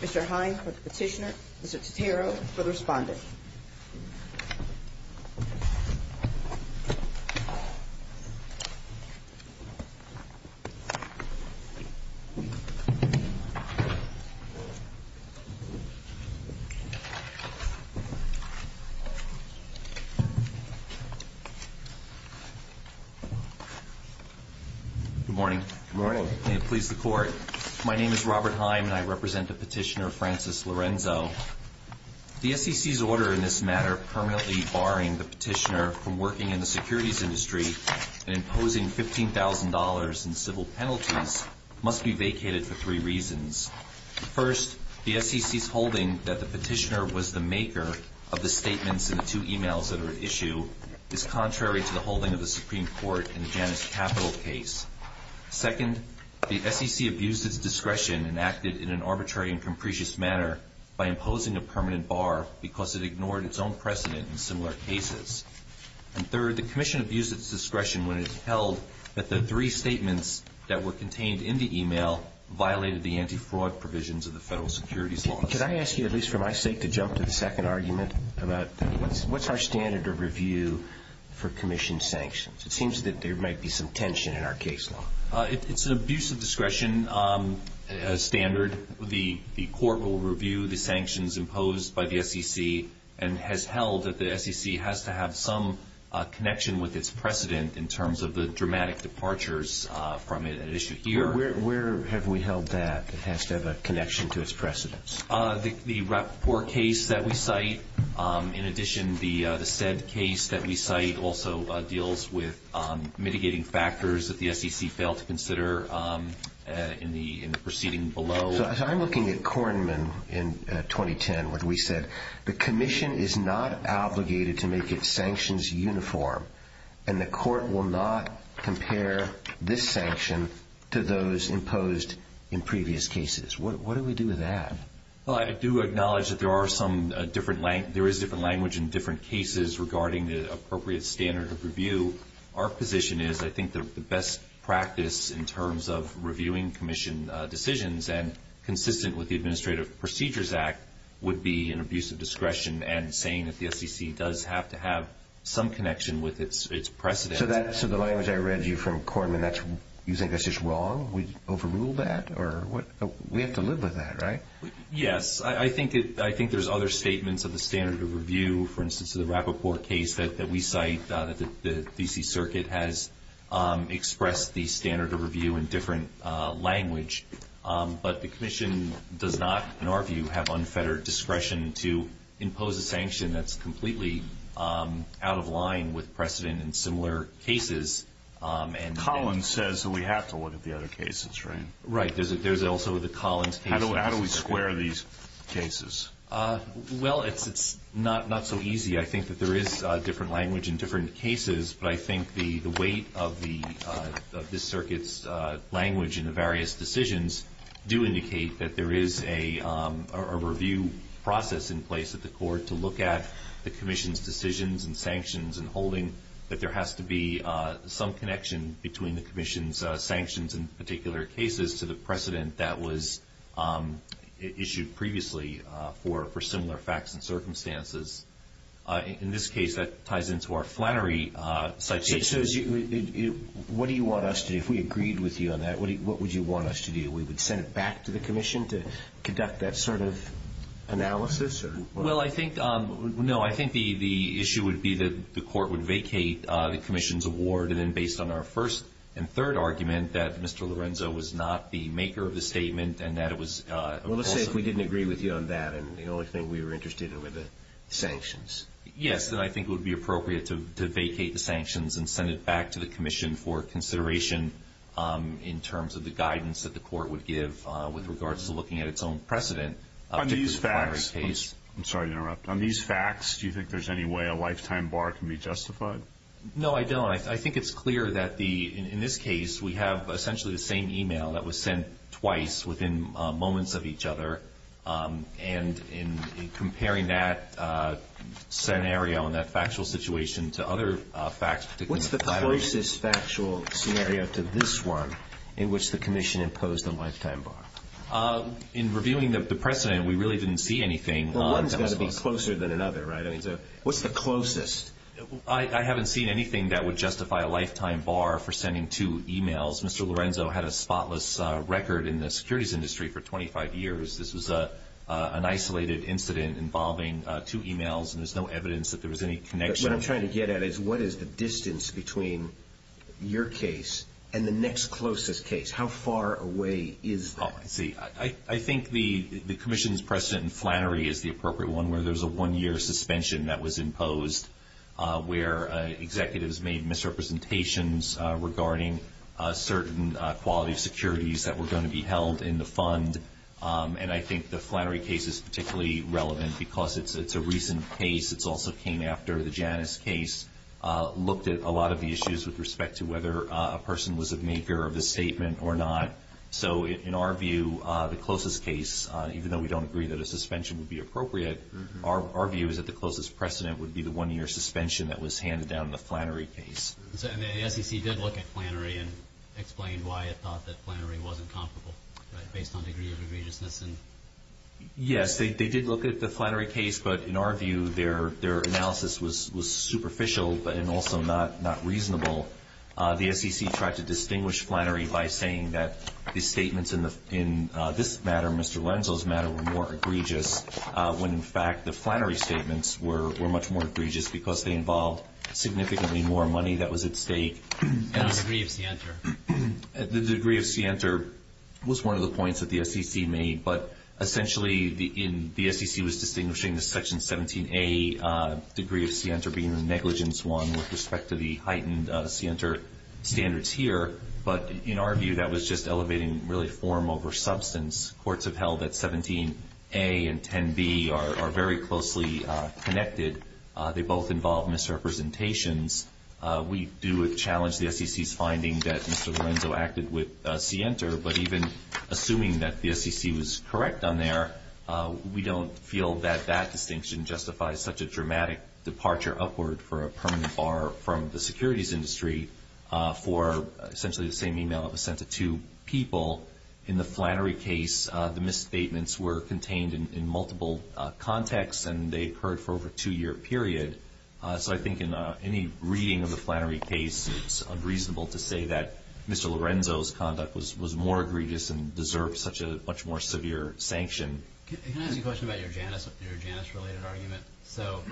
Mr. Hine for the petitioner, Mr. Totaro for the respondent. Good morning. May it please the Court, my name is Robert Hine and I represent the petitioner Francis Lorenzo. The SEC's order in this matter permanently barring the petitioner from working in the securities industry and imposing $15,000 in civil penalties must be vacated for three reasons. First, the SEC's holding that the petitioner was the maker of the statements in the two e-mails that are at issue is contrary to the holding of the Supreme Court in the Janus Capital case. Second, the SEC abused its discretion and acted in an arbitrary and capricious manner by imposing a permanent bar because it ignored its own precedent in similar cases. And third, the Commission abused its discretion when it held that the three statements that were contained in the e-mail violated the anti-fraud provisions of the Federal Securities Law. Could I ask you, at least for my sake, to jump to the second argument about what's our standard of review for Commission sanctions? It seems that there might be some tension in our case law. It's an abuse of discretion standard. The Court will review the sanctions imposed by the SEC and has held that the SEC has to have some connection with its precedent in terms of the dramatic departures from an issue here. Where have we held that it has to have a connection to its precedents? The Rappaport case that we cite. In addition, the SED case that we cite also deals with mitigating factors that the SEC failed to consider in the proceeding below. So I'm looking at Kornman in 2010 when we said the Commission is not obligated to make its sanctions uniform, and the Court will not compare this sanction to those imposed in previous cases. What do we do with that? Well, I do acknowledge that there is different language in different cases regarding the appropriate standard of review. Our position is I think the best practice in terms of reviewing Commission decisions and consistent with the Administrative Procedures Act would be an abuse of discretion and saying that the SEC does have to have some connection with its precedent. So the language I read you from Kornman, you think that's just wrong? We overruled that? We have to live with that, right? Yes. I think there's other statements of the standard of review. For instance, the Rappaport case that we cite, the D.C. Circuit has expressed the standard of review in different language. But the Commission does not, in our view, have unfettered discretion to impose a sanction that's completely out of line with precedent in similar cases. Collins says that we have to look at the other cases, right? Right. There's also the Collins case. How do we square these cases? Well, it's not so easy. I think that there is different language in different cases, but I think the weight of the Circuit's language in the various decisions do indicate that there is a review process in place at the Court to look at the Commission's decisions and sanctions and holding that there has to be some connection between the Commission's sanctions in particular cases to the precedent that was issued previously for similar facts and circumstances. In this case, that ties into our Flannery citation. So what do you want us to do? If we agreed with you on that, what would you want us to do? We would send it back to the Commission to conduct that sort of analysis or what? Well, I think, no, I think the issue would be that the Court would vacate the Commission's award and then based on our first and third argument that Mr. Lorenzo was not the maker of the statement and that it was... Well, let's say if we didn't agree with you on that and the only thing we were interested in were the sanctions. Yes, then I think it would be appropriate to vacate the sanctions and send it back to the Commission for consideration in terms of the guidance that the Court would give with regards to looking at its own precedent. On these facts, I'm sorry to interrupt. On these facts, do you think there's any way a lifetime bar can be justified? No, I don't. I think it's clear that the, in this case, we have essentially the same and in comparing that scenario and that factual situation to other facts... What's the closest factual scenario to this one in which the Commission imposed a lifetime bar? In reviewing the precedent, we really didn't see anything... Well, one's got to be closer than another, right? I mean, so what's the closest? I haven't seen anything that would justify a lifetime bar for sending two emails. Mr. Chairman, I've been in the securities industry for 25 years. This was an isolated incident involving two emails and there's no evidence that there was any connection. But what I'm trying to get at is what is the distance between your case and the next closest case? How far away is that? Oh, I see. I think the Commission's precedent in Flannery is the appropriate one where there's a one-year suspension that was imposed where executives made misrepresentations regarding certain quality securities that were going to be held in the fund. And I think the Flannery case is particularly relevant because it's a recent case. It also came after the Janus case looked at a lot of the issues with respect to whether a person was a maker of the statement or not. So in our view, the closest case, even though we don't agree that a suspension would be appropriate, our view is that the closest precedent would be the one-year suspension that was handed down in the Flannery case. And the SEC did look at Flannery and explained why it thought that Flannery wasn't comparable based on degree of egregiousness. Yes, they did look at the Flannery case, but in our view, their analysis was superficial and also not reasonable. The SEC tried to distinguish Flannery by saying that the statements in this matter, Mr. Lenzo's matter, were more egregious when in fact the Flannery statements were much more egregious because they involved significantly more money that was at stake. And the degree of scienter. The degree of scienter was one of the points that the SEC made, but essentially the SEC was distinguishing the Section 17A degree of scienter being the negligence one with respect to the heightened scienter standards here. But in our view, that was just elevating really form over substance. Courts have held that 17A and 10B are very closely connected. They both involve misrepresentations. We do challenge the SEC's finding that Mr. Lenzo acted with scienter. But even assuming that the SEC was correct on there, we don't feel that that distinction justifies such a dramatic departure upward for a permanent bar from the securities industry for essentially the same email that was sent to two people. In the Flannery case, the misstatements were contained in multiple contexts, and they occurred for over a two-year period. So I think in any reading of the Flannery case, it's unreasonable to say that Mr. Lorenzo's conduct was more egregious and deserved such a much more severe sanction. Can I ask you a question about your Janus-related argument? So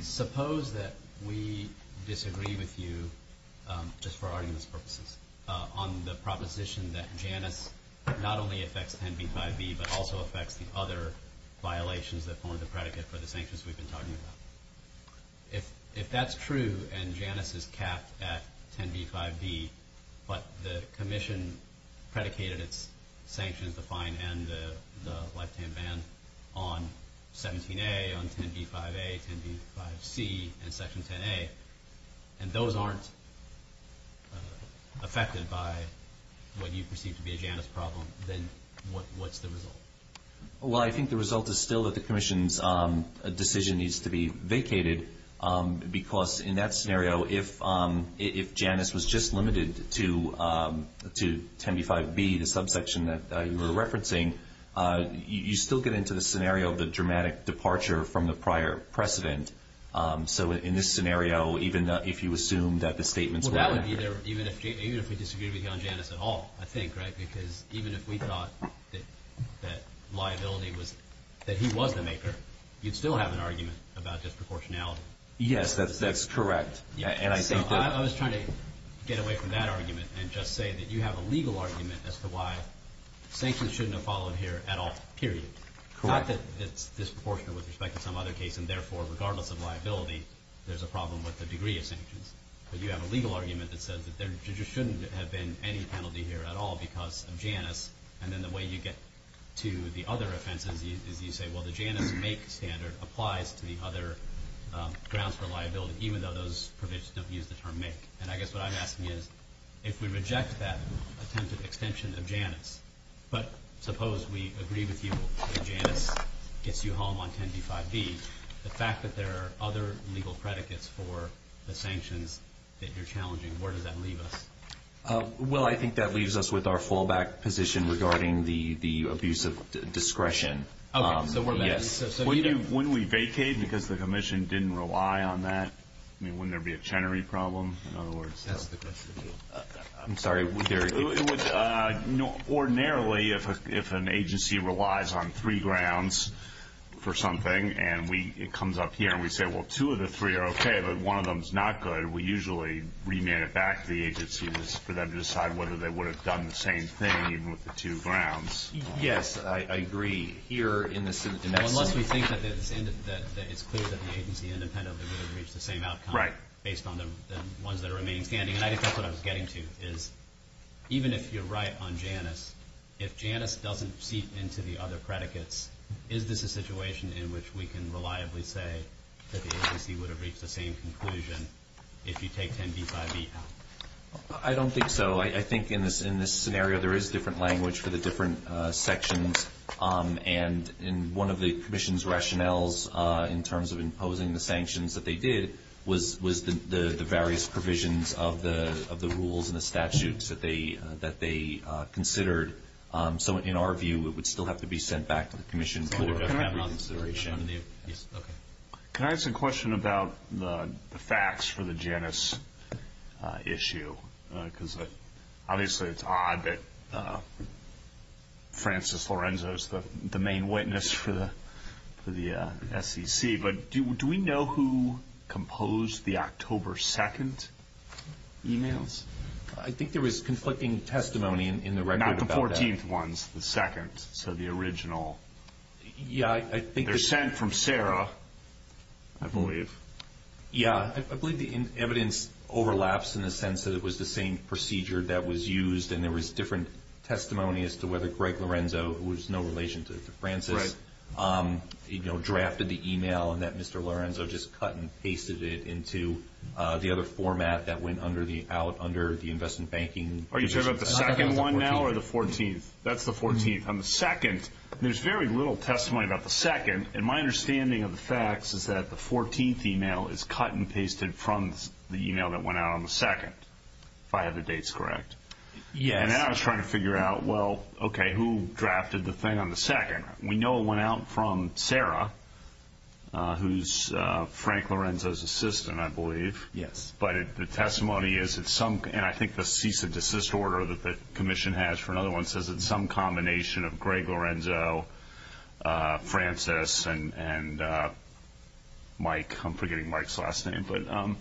suppose that we disagree with you, just for arguments purposes, on the proposition that Janus not only affects 10B by B, but also affects the other violations that are the sanctions we've been talking about. If that's true and Janus is capped at 10B, 5B, but the commission predicated its sanctions, the fine and the lifetime ban on 17A, on 10B, 5A, 10B, 5C, and Section 10A, and those aren't affected by what you perceive to be a Janus problem, then what's the result? Well, I think the result is still that the commission's decision needs to be vacated, because in that scenario, if Janus was just limited to 10B, 5B, the subsection that you were referencing, you still get into the scenario of the dramatic departure from the prior precedent. So in this scenario, even if you assume that the statements were accurate. Well, that would be there even if we disagreed with you on Janus at all, I think, right? Because even if we thought that liability was, that he was the maker, you'd still have an argument about disproportionality. Yes, that's correct. I was trying to get away from that argument and just say that you have a legal argument as to why sanctions shouldn't have followed here at all, period. Not that it's disproportionate with respect to some other case, and therefore, regardless of liability, there's a problem with the degree of sanctions. But you have a legal argument that says that there just shouldn't have been any penalty here at all, because of Janus, and then the way you get to the other offenses is you say, well, the Janus make standard applies to the other grounds for liability, even though those provisions don't use the term make. And I guess what I'm asking is, if we reject that attempt at extension of Janus, but suppose we agree with you that Janus gets you home on 10B, 5B, the fact that there are other legal predicates for the sanctions that you're challenging, where does that leave us? Well, I think that leaves us with our fallback position regarding the abuse of discretion. Okay, so we're back. Yes. Wouldn't we vacate because the commission didn't rely on that? I mean, wouldn't there be a Chenery problem? That's the question. I'm sorry. Ordinarily, if an agency relies on three grounds for something, and it comes up here, and we say, well, two of the three are okay, but one of them is not good, we usually remand it back to the agencies for them to decide whether they would have done the same thing even with the two grounds. Yes, I agree. Unless we think that it's clear that the agency independently would have reached the same outcome. Right. Based on the ones that are remaining standing. And I think that's what I was getting to, is even if you're right on Janus, if Janus doesn't seep into the other predicates, is this a situation in which we can reliably say that the agency would have reached the same conclusion if you take 10b by b out? I don't think so. I think in this scenario there is different language for the different sections. And one of the commission's rationales in terms of imposing the sanctions that they did was the various provisions of the rules and the statutes that they considered. So in our view, it would still have to be sent back to the commission for reconsideration. Can I ask a question about the facts for the Janus issue? Because obviously it's odd that Francis Lorenzo is the main witness for the SEC, but do we know who composed the October 2nd emails? I think there was conflicting testimony in the record about that. The 14th ones, the second, so the original. Yeah. They're sent from Sarah, I believe. Yeah. I believe the evidence overlaps in the sense that it was the same procedure that was used and there was different testimony as to whether Greg Lorenzo, who has no relation to Francis, drafted the email and that Mr. Lorenzo just cut and pasted it into the other format that went out under the investment banking commission. Are you talking about the second one now or the 14th? That's the 14th. On the second, there's very little testimony about the second, and my understanding of the facts is that the 14th email is cut and pasted from the email that went out on the second, if I have the dates correct. Yes. And then I was trying to figure out, well, okay, who drafted the thing on the second? We know it went out from Sarah, who's Frank Lorenzo's assistant, I believe. Yes. But the testimony is, and I think the cease and desist order that the commission has for another one, says it's some combination of Greg Lorenzo, Francis, and Mike. I'm forgetting Mike's last name.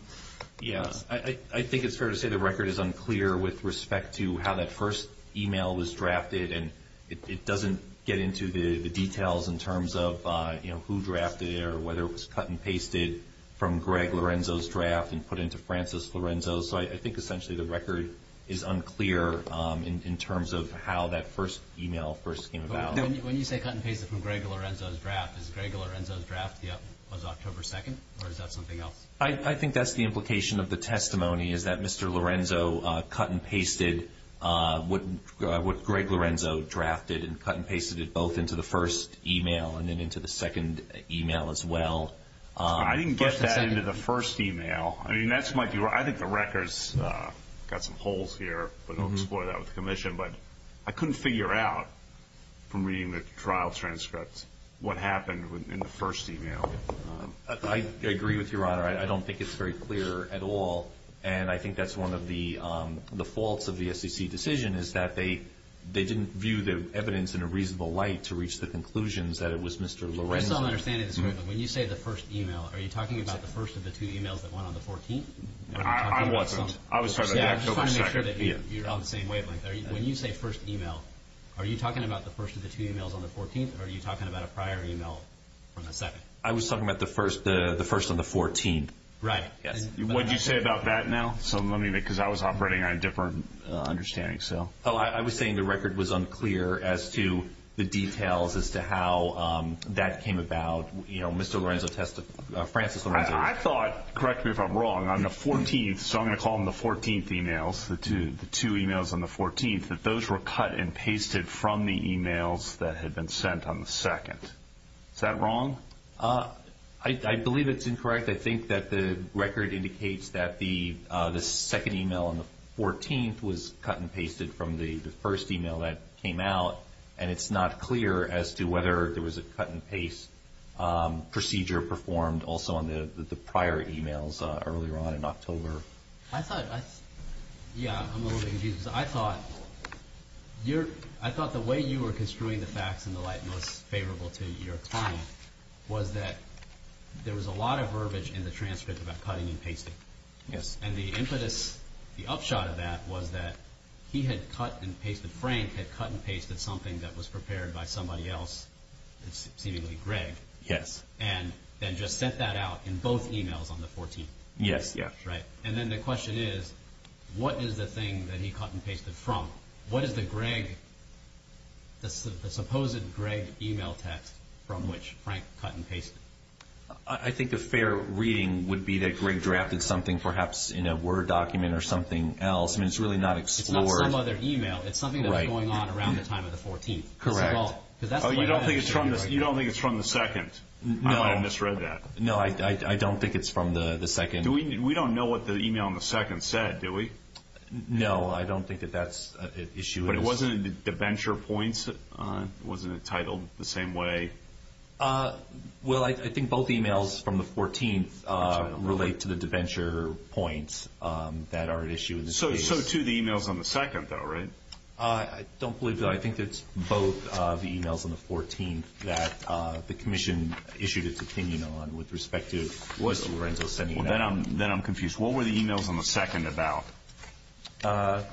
Yeah. I think it's fair to say the record is unclear with respect to how that first email was drafted, and it doesn't get into the details in terms of who drafted it or whether it was cut and pasted from Greg Lorenzo's draft and put into Francis Lorenzo's. So I think essentially the record is unclear in terms of how that first email first came about. When you say cut and pasted from Greg Lorenzo's draft, is Greg Lorenzo's draft was October 2nd, or is that something else? I think that's the implication of the testimony is that Mr. Lorenzo cut and pasted what Greg Lorenzo drafted and cut and pasted it both into the first email and then into the second email as well. I didn't get that into the first email. I think the record's got some holes here, but we'll explore that with the commission. But I couldn't figure out from reading the trial transcripts what happened in the first email. I agree with Your Honor. I don't think it's very clear at all. And I think that's one of the faults of the SEC decision is that they didn't view the evidence in a reasonable light to reach the conclusions that it was Mr. Lorenzo's. I still don't understand it. When you say the first email, are you talking about the first of the two emails that went on the 14th? I wasn't. I was talking about the October 2nd. I'm just trying to make sure that you're on the same wavelength. When you say first email, are you talking about the first of the two emails on the 14th, or are you talking about a prior email from the second? I was talking about the first on the 14th. Right. What did you say about that now? Because I was operating on a different understanding. I was saying the record was unclear as to the details as to how that came about. Mr. Lorenzo tested, Francis Lorenzo. I thought, correct me if I'm wrong, on the 14th, so I'm going to call them the 14th emails, the two emails on the 14th, that those were cut and pasted from the emails that had been sent on the second. Is that wrong? I believe it's incorrect. I think that the record indicates that the second email on the 14th was cut and pasted from the first email that came out, and it's not clear as to whether there was a cut-and-paste procedure performed also on the prior emails earlier on in October. Yeah, I'm a little bit confused. I thought the way you were construing the facts in the light most favorable to your claim was that there was a lot of verbiage in the transcript about cutting and pasting, and the impetus, the upshot of that was that he had cut and pasted, Frank had cut and pasted something that was prepared by somebody else, seemingly Greg, and then just sent that out in both emails on the 14th. Yes. And then the question is, what is the thing that he cut and pasted from? What is the supposed Greg email text from which Frank cut and pasted? I think a fair reading would be that Greg drafted something perhaps in a Word document or something else. I mean, it's really not explored. It's not some other email. It's something that was going on around the time of the 14th. Correct. You don't think it's from the second? No. I might have misread that. No, I don't think it's from the second. We don't know what the email on the second said, do we? No, I don't think that that's an issue. But it wasn't in the debenture points? Wasn't it titled the same way? Well, I think both emails from the 14th relate to the debenture points that are at issue in this case. So, too, the emails on the second, though, right? I don't believe so. I think it's both of the emails on the 14th that the commission issued its opinion on with respect to Lorenzo sending them out. Then I'm confused. What were the emails on the second about? I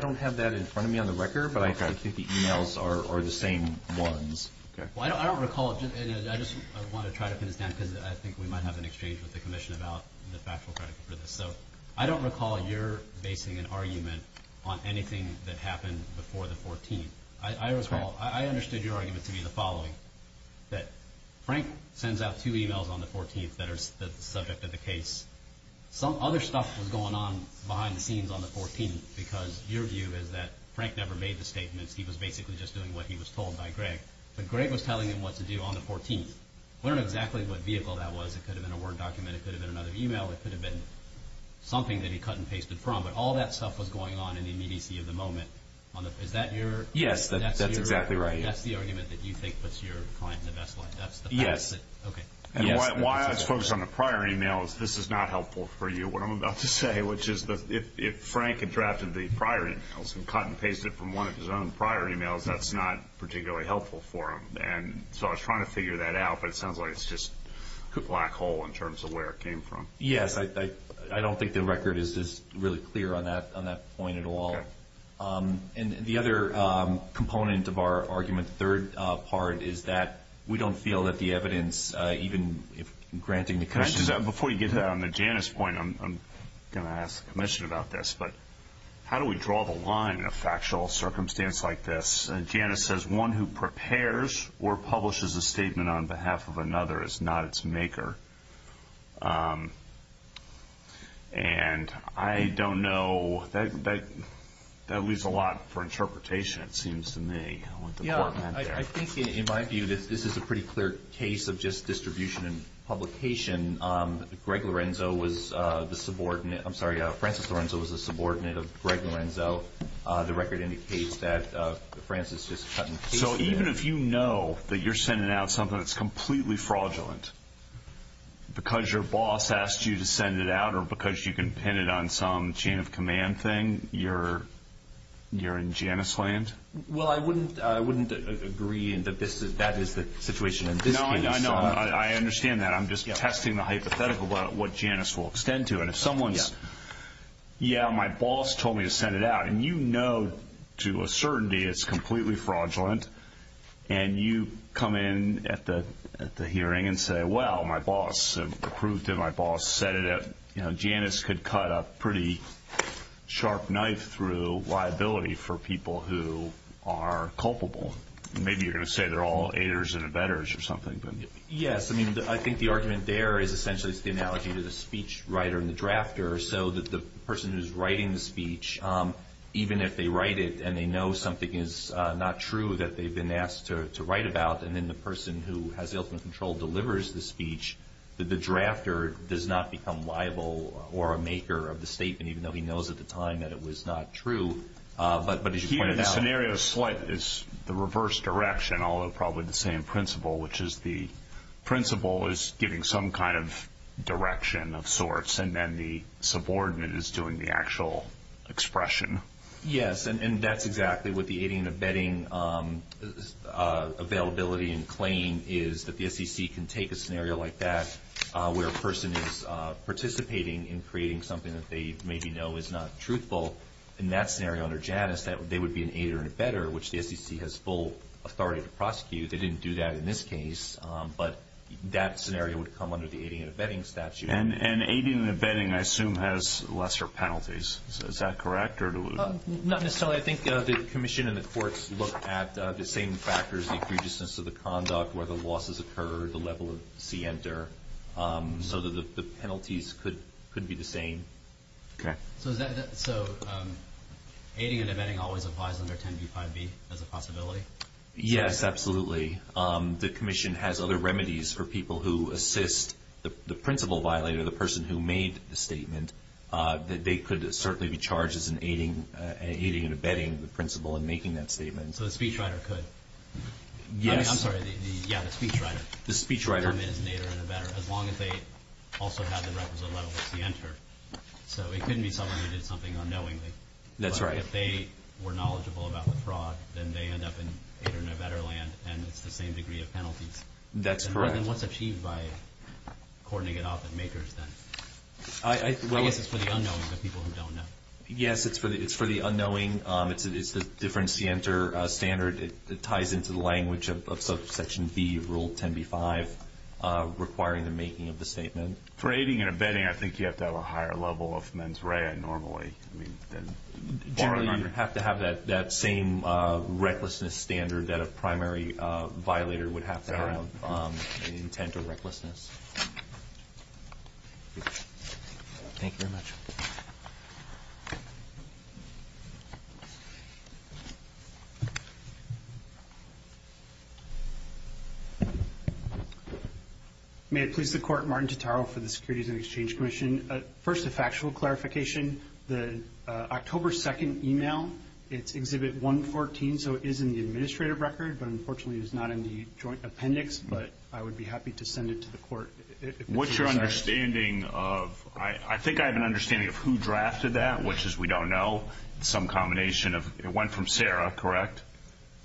don't have that in front of me on the record, but I think the emails are the same ones. Well, I don't recall. I just want to try to pin this down because I think we might have an exchange with the commission about the factual credit for this. So I don't recall your basing an argument on anything that happened before the 14th. I understood your argument to be the following, that Frank sends out two emails on the 14th that are the subject of the case. Some other stuff was going on behind the scenes on the 14th because your view is that Frank never made the statements. He was basically just doing what he was told by Greg. But Greg was telling him what to do on the 14th. I don't know exactly what vehicle that was. It could have been a Word document. It could have been another email. It could have been something that he cut and pasted from. But all that stuff was going on in the immediacy of the moment. Is that your argument? Yes, that's exactly right. That's the argument that you think puts your client in the best light? Yes. Okay. Why I was focused on the prior email is this is not helpful for you, what I'm about to say, which is that if Frank had drafted the prior emails and cut and pasted from one of his own prior emails, that's not particularly helpful for him. And so I was trying to figure that out, but it sounds like it's just a black hole in terms of where it came from. Yes, I don't think the record is really clear on that point at all. Okay. And the other component of our argument, the third part, is that we don't feel that the evidence, even if granting the commission. Before you get to Janice's point, I'm going to ask the commission about this, but how do we draw the line in a factual circumstance like this? Janice says one who prepares or publishes a statement on behalf of another is not its maker. And I don't know. That leaves a lot for interpretation, it seems to me. Yeah, I think in my view this is a pretty clear case of just distribution and publication. Greg Lorenzo was the subordinate. I'm sorry, Francis Lorenzo was the subordinate of Greg Lorenzo. The record indicates that Francis just cut and pasted. So even if you know that you're sending out something that's completely fraudulent, because your boss asked you to send it out or because you can pin it on some chain of command thing, you're in Janice land? Well, I wouldn't agree that that is the situation in this case. No, I understand that. I'm just testing the hypothetical about what Janice will extend to. Yeah, my boss told me to send it out. And you know to a certainty it's completely fraudulent, and you come in at the hearing and say, well, my boss approved it, my boss said it. Janice could cut a pretty sharp knife through liability for people who are culpable. Maybe you're going to say they're all haters and abettors or something. Yes. I mean, I think the argument there is essentially it's the analogy to the speech writer and the drafter, so that the person who's writing the speech, even if they write it and they know something is not true that they've been asked to write about, and then the person who has the ultimate control delivers the speech, the drafter does not become liable or a maker of the statement, even though he knows at the time that it was not true. But as you pointed out. Here the scenario is the reverse direction, although probably the same principle, which is the principle is giving some kind of direction of sorts, and then the subordinate is doing the actual expression. Yes, and that's exactly what the aiding and abetting availability and claim is, that the SEC can take a scenario like that where a person is participating in creating something that they maybe know is not truthful. In that scenario under Janice, they would be an aider and abetter, which the SEC has full authority to prosecute. They didn't do that in this case, but that scenario would come under the aiding and abetting statute. And aiding and abetting, I assume, has lesser penalties. Is that correct? Not necessarily. I think the Commission and the courts look at the same factors, the egregiousness of the conduct, where the losses occur, the level of scienter, so that the penalties could be the same. So aiding and abetting always applies under 10b-5b as a possibility? Yes, absolutely. The Commission has other remedies for people who assist the principal violator, the person who made the statement, that they could certainly be charged as an aiding and abetting the principal in making that statement. So the speechwriter could? Yes. I'm sorry, yeah, the speechwriter. The speechwriter. As long as they also have the representativeness to enter. So it couldn't be someone who did something unknowingly. That's right. If they were knowledgeable about the fraud, then they end up in a better land, and it's the same degree of penalties. That's correct. And what's achieved by coordinating it off at MAKERS, then? I guess it's for the unknowing, the people who don't know. Yes, it's for the unknowing. It's a different scienter standard. It ties into the language of Section B, Rule 10b-5, requiring the making of the statement. For aiding and abetting, I think you have to have a higher level of mens rea normally. Generally, you have to have that same recklessness standard that a primary violator would have to have, intent or recklessness. Thank you very much. Thank you. May it please the Court, Martin Totaro for the Securities and Exchange Commission. First, a factual clarification. The October 2nd email, it's Exhibit 114, so it is in the administrative record, but unfortunately it's not in the joint appendix, but I would be happy to send it to the Court. What's your understanding of, I think I have an understanding of who drafted that, which is we don't know. It's some combination of, it went from Sarah, correct?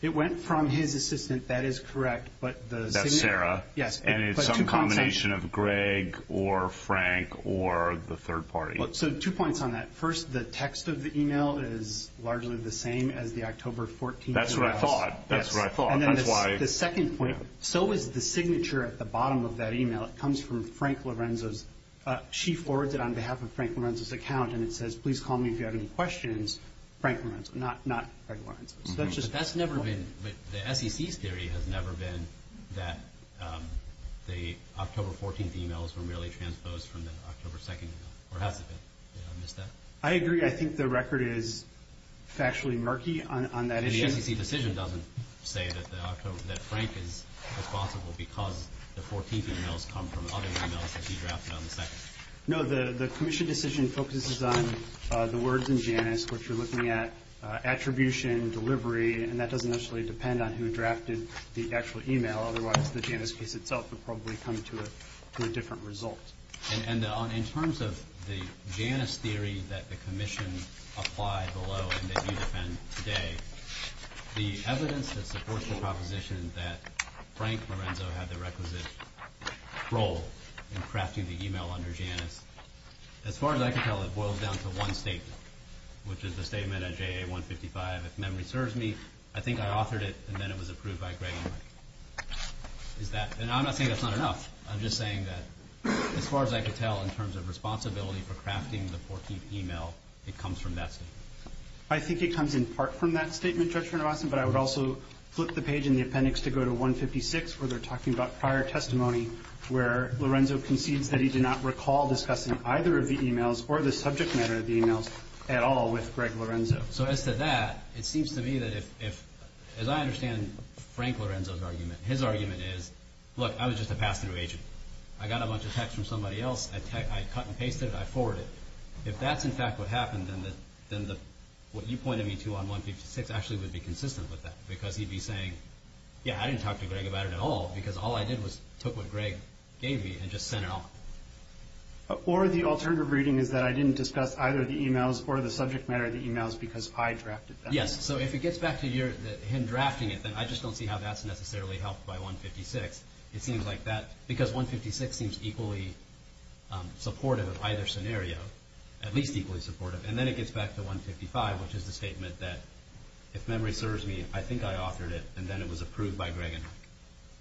It went from his assistant, that is correct. That's Sarah? Yes. And it's some combination of Greg or Frank or the third party. So two points on that. First, the text of the email is largely the same as the October 14th email. That's what I thought. That's what I thought. And then the second point, so is the signature at the bottom of that email. It comes from Frank Lorenzo's. She forwards it on behalf of Frank Lorenzo's account, and it says, please call me if you have any questions, Frank Lorenzo, not Greg Lorenzo. But that's never been, the SEC's theory has never been that the October 14th emails were merely transposed from the October 2nd email, or has it been? Did I miss that? I agree. I think the record is factually murky on that issue. The SEC decision doesn't say that Frank is responsible because the 14th emails come from other emails that he drafted on the 2nd? No. The commission decision focuses on the words in Janus, which we're looking at attribution, delivery, and that doesn't necessarily depend on who drafted the actual email. Otherwise, the Janus case itself would probably come to a different result. And in terms of the Janus theory that the commission applied below and that you defend today, the evidence that supports the proposition that Frank Lorenzo had the requisite role in crafting the email under Janus, as far as I can tell, it boils down to one statement, which is the statement at JA 155, if memory serves me, I think I authored it, and then it was approved by Greg and Mike. And I'm not saying that's not enough. I'm just saying that as far as I can tell, in terms of responsibility for crafting the 14th email, it comes from that statement. I think it comes in part from that statement, Judge Renovason, but I would also flip the page in the appendix to go to 156, where they're talking about prior testimony, where Lorenzo concedes that he did not recall discussing either of the emails or the subject matter of the emails at all with Greg Lorenzo. So as to that, it seems to me that if, as I understand Frank Lorenzo's argument, his argument is, look, I was just a pass-through agent. I got a bunch of text from somebody else, I cut and pasted it, I forwarded it. If that's, in fact, what happened, then what you pointed me to on 156 actually would be consistent with that because he'd be saying, yeah, I didn't talk to Greg about it at all because all I did was took what Greg gave me and just sent it off. Or the alternative reading is that I didn't discuss either the emails or the subject matter of the emails because I drafted them. Yes, so if it gets back to him drafting it, then I just don't see how that's necessarily helped by 156. Because 156 seems equally supportive of either scenario, at least equally supportive. And then it gets back to 155, which is the statement that if memory serves me, I think I authored it, and then it was approved by Greg.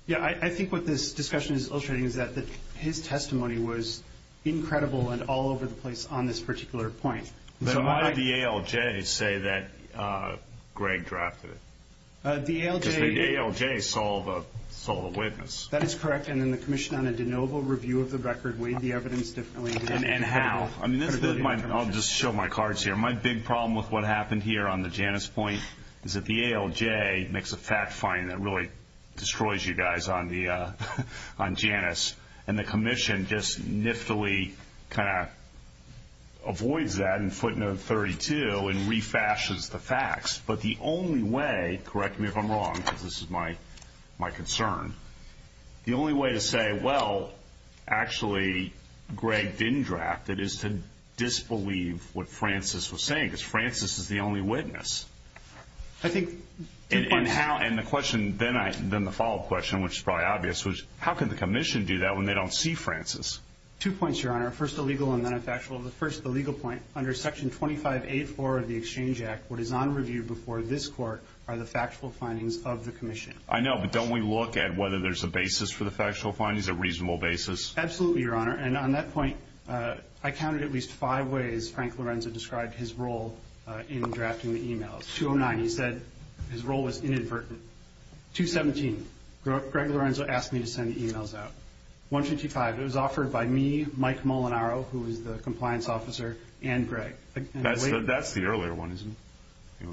Yeah, I think what this discussion is illustrating is that his testimony was incredible and all over the place on this particular point. Then why did the ALJ say that Greg drafted it? Because the ALJ saw the witness. That is correct, and then the commission on a de novo review of the record weighed the evidence differently. And how. I'll just show my cards here. My big problem with what happened here on the Janus point is that the ALJ makes a fact finding that really destroys you guys on Janus, and the commission just niftily kind of avoids that in footnote 32 and refashes the facts. But the only way, correct me if I'm wrong, because this is my concern, the only way to say, well, actually Greg didn't draft it, is to disbelieve what Francis was saying, because Francis is the only witness. I think two points. And the question, then the follow-up question, which is probably obvious, was how can the commission do that when they don't see Francis? Two points, Your Honor. First, the legal and then the factual. The first, the legal point, under Section 25.8.4 of the Exchange Act, what is on review before this court are the factual findings of the commission. I know, but don't we look at whether there's a basis for the factual findings, a reasonable basis? Absolutely, Your Honor. And on that point, I counted at least five ways Frank Lorenzo described his role in drafting the e-mails. 209, he said his role was inadvertent. 217, Greg Lorenzo asked me to send the e-mails out. 125, it was offered by me, Mike Molinaro, who is the compliance officer, and Greg. That's the earlier one, isn't it?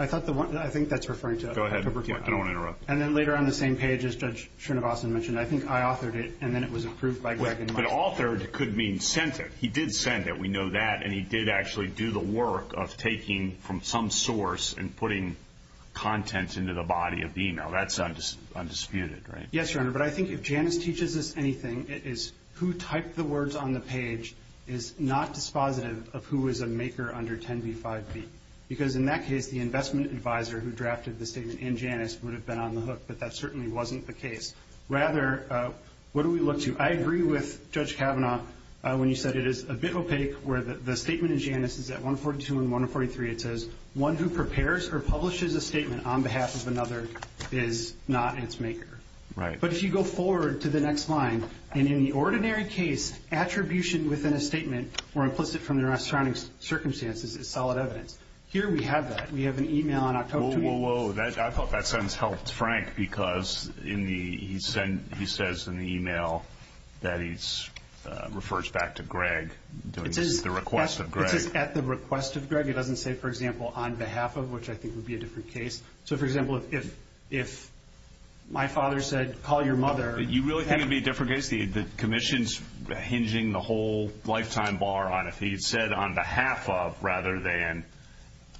I thought the one that I think that's referring to. Go ahead. I don't want to interrupt. And then later on the same page, as Judge Srinivasan mentioned, I think I authored it and then it was approved by Greg. But authored could mean sent it. He did send it. We know that. And he did actually do the work of taking from some source and putting content into the body of the e-mail. That's undisputed, right? Yes, Your Honor. But I think if Janice teaches us anything, it is who typed the words on the page is not dispositive of who is a maker under 10b-5b. Because in that case, the investment advisor who drafted the statement in Janice would have been on the hook. But that certainly wasn't the case. Rather, what do we look to? I agree with Judge Kavanaugh when you said it is a bit opaque, where the statement in Janice is at 142 and 143. It says, one who prepares or publishes a statement on behalf of another is not its maker. Right. But if you go forward to the next line, and in the ordinary case, attribution within a statement or implicit from the surrounding circumstances is solid evidence. Here we have that. We have an e-mail. Whoa, whoa, whoa. I thought that sentence helped Frank, because he says in the e-mail that he refers back to Greg. It's at the request of Greg. It's at the request of Greg. It doesn't say, for example, on behalf of, which I think would be a different case. So, for example, if my father said, call your mother. You really think it would be a different case? The commission's hinging the whole lifetime bar on if he said on behalf of, rather than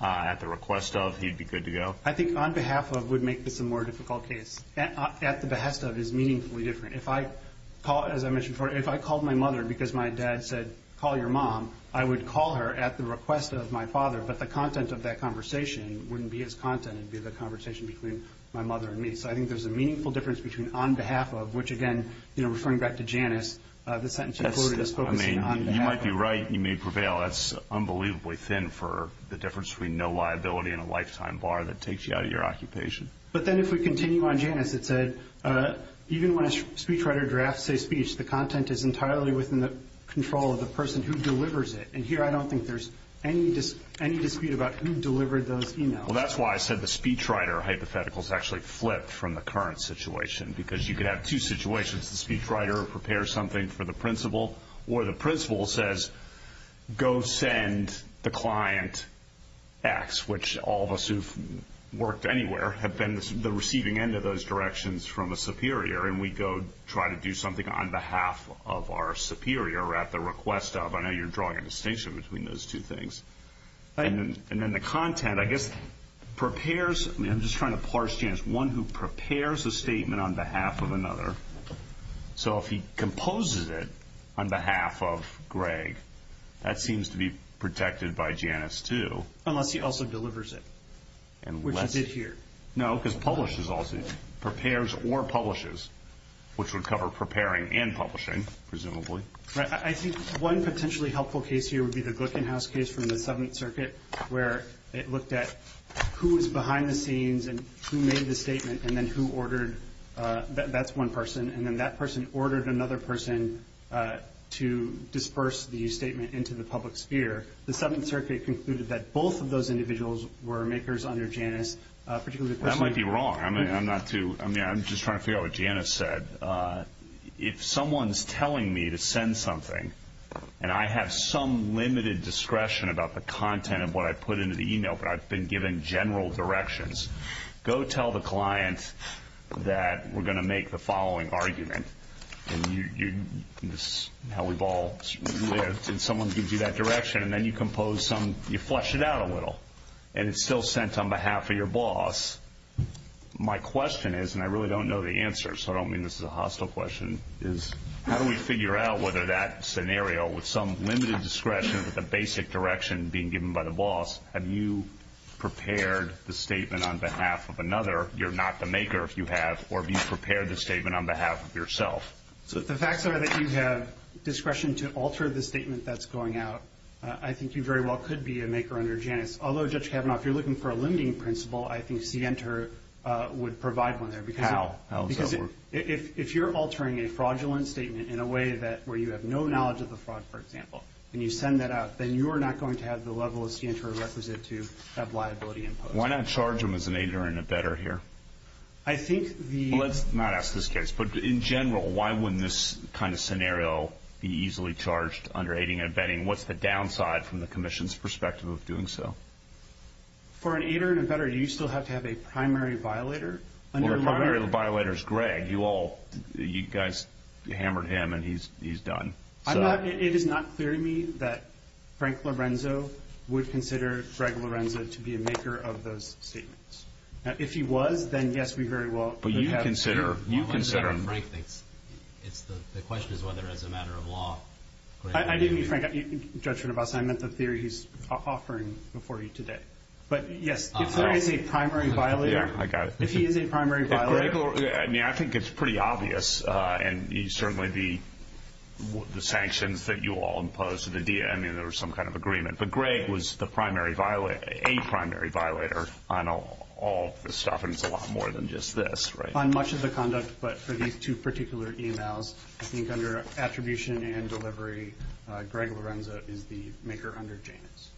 at the request of, he'd be good to go? I think on behalf of would make this a more difficult case. At the behest of is meaningfully different. As I mentioned before, if I called my mother because my dad said, call your mom, I would call her at the request of my father. But the content of that conversation wouldn't be his content. It would be the conversation between my mother and me. So I think there's a meaningful difference between on behalf of, which, again, referring back to Janice, the sentence included is focusing on behalf of. You might be right. You may prevail. That's unbelievably thin for the difference between no liability and a lifetime bar that takes you out of your occupation. But then if we continue on Janice, it said, even when a speechwriter drafts a speech, the content is entirely within the control of the person who delivers it. And here I don't think there's any dispute about who delivered those emails. Well, that's why I said the speechwriter hypothetical is actually flipped from the current situation, because you could have two situations. The speechwriter prepares something for the principal, or the principal says, go send the client X, which all of us who've worked anywhere have been the receiving end of those directions from a superior, and we go try to do something on behalf of our superior at the request of. I know you're drawing a distinction between those two things. And then the content, I guess, prepares. I'm just trying to parse Janice. One who prepares a statement on behalf of another. So if he composes it on behalf of Greg, that seems to be protected by Janice too. Unless he also delivers it, which he did here. No, because publishes also. Prepares or publishes, which would cover preparing and publishing, presumably. Right. I think one potentially helpful case here would be the Glickenhaus case from the Seventh Circuit, where it looked at who was behind the scenes and who made the statement, and then who ordered. That's one person. And then that person ordered another person to disperse the statement into the public sphere. The Seventh Circuit concluded that both of those individuals were makers under Janice. That might be wrong. I'm just trying to figure out what Janice said. If someone's telling me to send something, and I have some limited discretion about the content of what I put into the email, but I've been given general directions, go tell the client that we're going to make the following argument. This is how we've all lived, and someone gives you that direction, and then you flesh it out a little. And it's still sent on behalf of your boss. My question is, and I really don't know the answer, so I don't mean this is a hostile question, is how do we figure out whether that scenario with some limited discretion with the basic direction being given by the boss, have you prepared the statement on behalf of another? You're not the maker if you have, or have you prepared the statement on behalf of yourself? So if the facts are that you have discretion to alter the statement that's going out, I think you very well could be a maker under Janice. Although, Judge Kavanaugh, if you're looking for a limiting principle, I think CNTR would provide one there. How? Because if you're altering a fraudulent statement in a way where you have no knowledge of the fraud, for example, and you send that out, then you are not going to have the level of CNTR requisite to have liability imposed. Why not charge them as an aider and abettor here? Let's not ask this case, but in general, why wouldn't this kind of scenario be easily charged under aiding and abetting? What's the downside from the commission's perspective of doing so? For an aider and abettor, do you still have to have a primary violator? Well, the primary violator is Greg. You guys hammered him, and he's done. It is not clear to me that Frank Lorenzo would consider Greg Lorenzo to be a maker of those statements. If he was, then, yes, we very well could have him. But you consider him. I didn't mean Frank. I meant the theory he's offering before you today. But, yes, if there is a primary violator. I got it. If he is a primary violator. I think it's pretty obvious, and certainly the sanctions that you all imposed to the DM, there was some kind of agreement. But Greg was a primary violator on all this stuff, and it's a lot more than just this. On much of the conduct, but for these two particular emails, I think under attribution and delivery, Greg Lorenzo is the maker under Janus.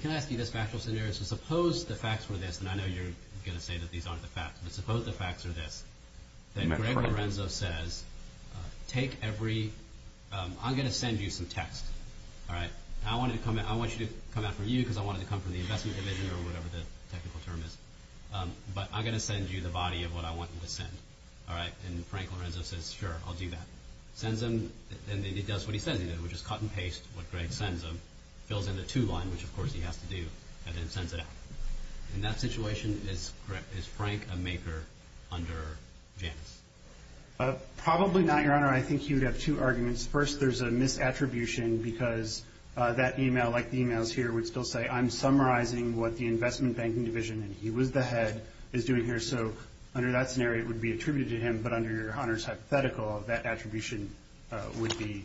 Can I ask you this factual scenario? So suppose the facts were this, and I know you're going to say that these aren't the facts, but suppose the facts are this, that Greg Lorenzo says, I'm going to send you some text, all right? I want you to come out from you because I wanted to come from the investment division or whatever the technical term is. But I'm going to send you the body of what I want you to send, all right? And Frank Lorenzo says, sure, I'll do that. Sends him, and he does what he says he does, which is cut and paste what Greg sends him, fills in the to line, which, of course, he has to do, and then sends it out. In that situation, is Frank a maker under Janus? Probably not, Your Honor. I think he would have two arguments. First, there's a misattribution because that email, like the emails here, would still say, I'm summarizing what the investment banking division, and he was the head, is doing here. So under that scenario, it would be attributed to him, but under Your Honor's hypothetical, that attribution would be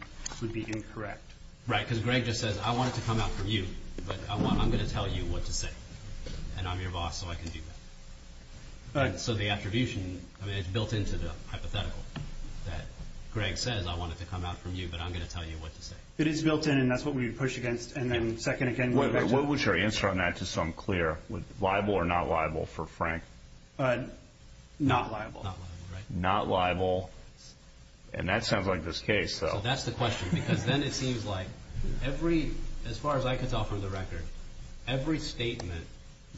incorrect. Right, because Greg just says, I want it to come out from you, but I'm going to tell you what to say, and I'm your boss, so I can do that. So the attribution, I mean, it's built into the hypothetical that Greg says, I want it to come out from you, but I'm going to tell you what to say. It is built in, and that's what we would push against. And then second, again, what would your answer on that, just so I'm clear, liable or not liable for Frank? Not liable. Not liable, right. Not liable, and that sounds like this case. So that's the question, because then it seems like every, as far as I can tell from the record, every statement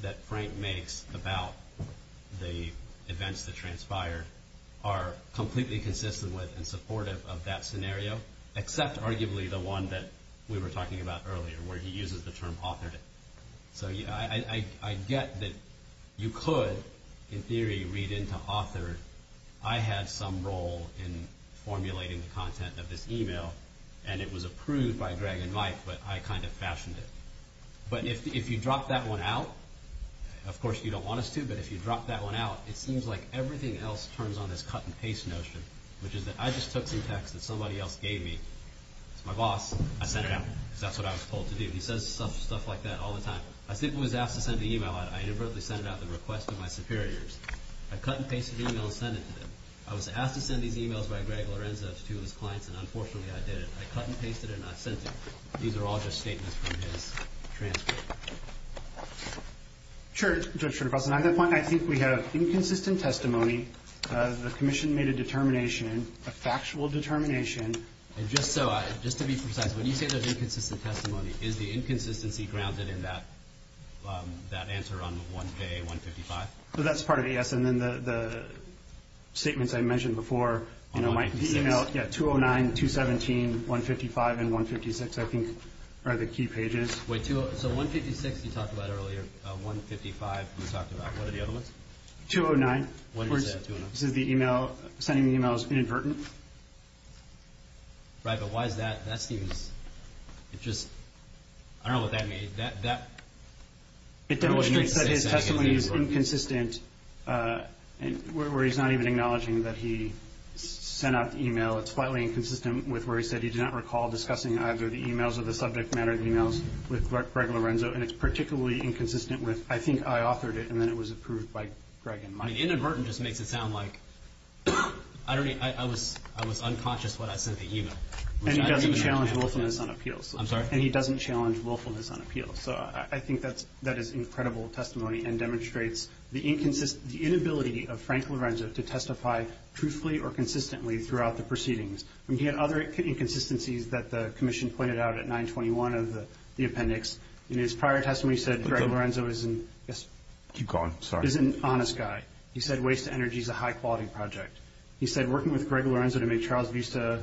that Frank makes about the events that transpired are completely consistent with and supportive of that scenario, except arguably the one that we were talking about earlier, where he uses the term authored it. So I get that you could, in theory, read into authored. I had some role in formulating the content of this e-mail, and it was approved by Greg and Mike, but I kind of fashioned it. But if you drop that one out, of course you don't want us to, but if you drop that one out, it seems like everything else turns on this cut-and-paste notion, which is that I just took some text that somebody else gave me. It's my boss. I sent it out, because that's what I was told to do. He says stuff like that all the time. I simply was asked to send the e-mail out. I inadvertently sent it out at the request of my superiors. I cut-and-pasted the e-mail and sent it to them. I was asked to send these e-mails by Greg Lorenzo to his clients, and unfortunately I did it. I cut-and-pasted it and I sent it. These are all just statements from his transcript. Judge Schroeder-Costin, on that point, I think we have inconsistent testimony. The Commission made a determination, a factual determination. Just to be precise, when you say there's inconsistent testimony, is the inconsistency grounded in that answer on 1K, 155? That's part of it, yes. And then the statements I mentioned before, my e-mail, 209, 217, 155, and 156 I think are the key pages. So 156 you talked about earlier, 155 you talked about. What are the other ones? 209. This is the e-mail, sending the e-mails inadvertently. Right, but why is that? That seems, it just, I don't know what that means. It demonstrates that his testimony is inconsistent, where he's not even acknowledging that he sent out the e-mail. It's slightly inconsistent with where he said he did not recall discussing either the e-mails or the subject matter of the e-mails with Greg Lorenzo, and it's particularly inconsistent with I think I authored it and then it was approved by Greg. And inadvertent just makes it sound like I was unconscious when I sent the e-mail. And he doesn't challenge willfulness on appeals. I'm sorry? And he doesn't challenge willfulness on appeals. So I think that is incredible testimony and demonstrates the inability of Frank Lorenzo to testify truthfully or consistently throughout the proceedings. He had other inconsistencies that the Commission pointed out at 921 of the appendix. In his prior testimony he said Greg Lorenzo is an honest guy. He said waste energy is a high-quality project. He said working with Greg Lorenzo to make Charles Vista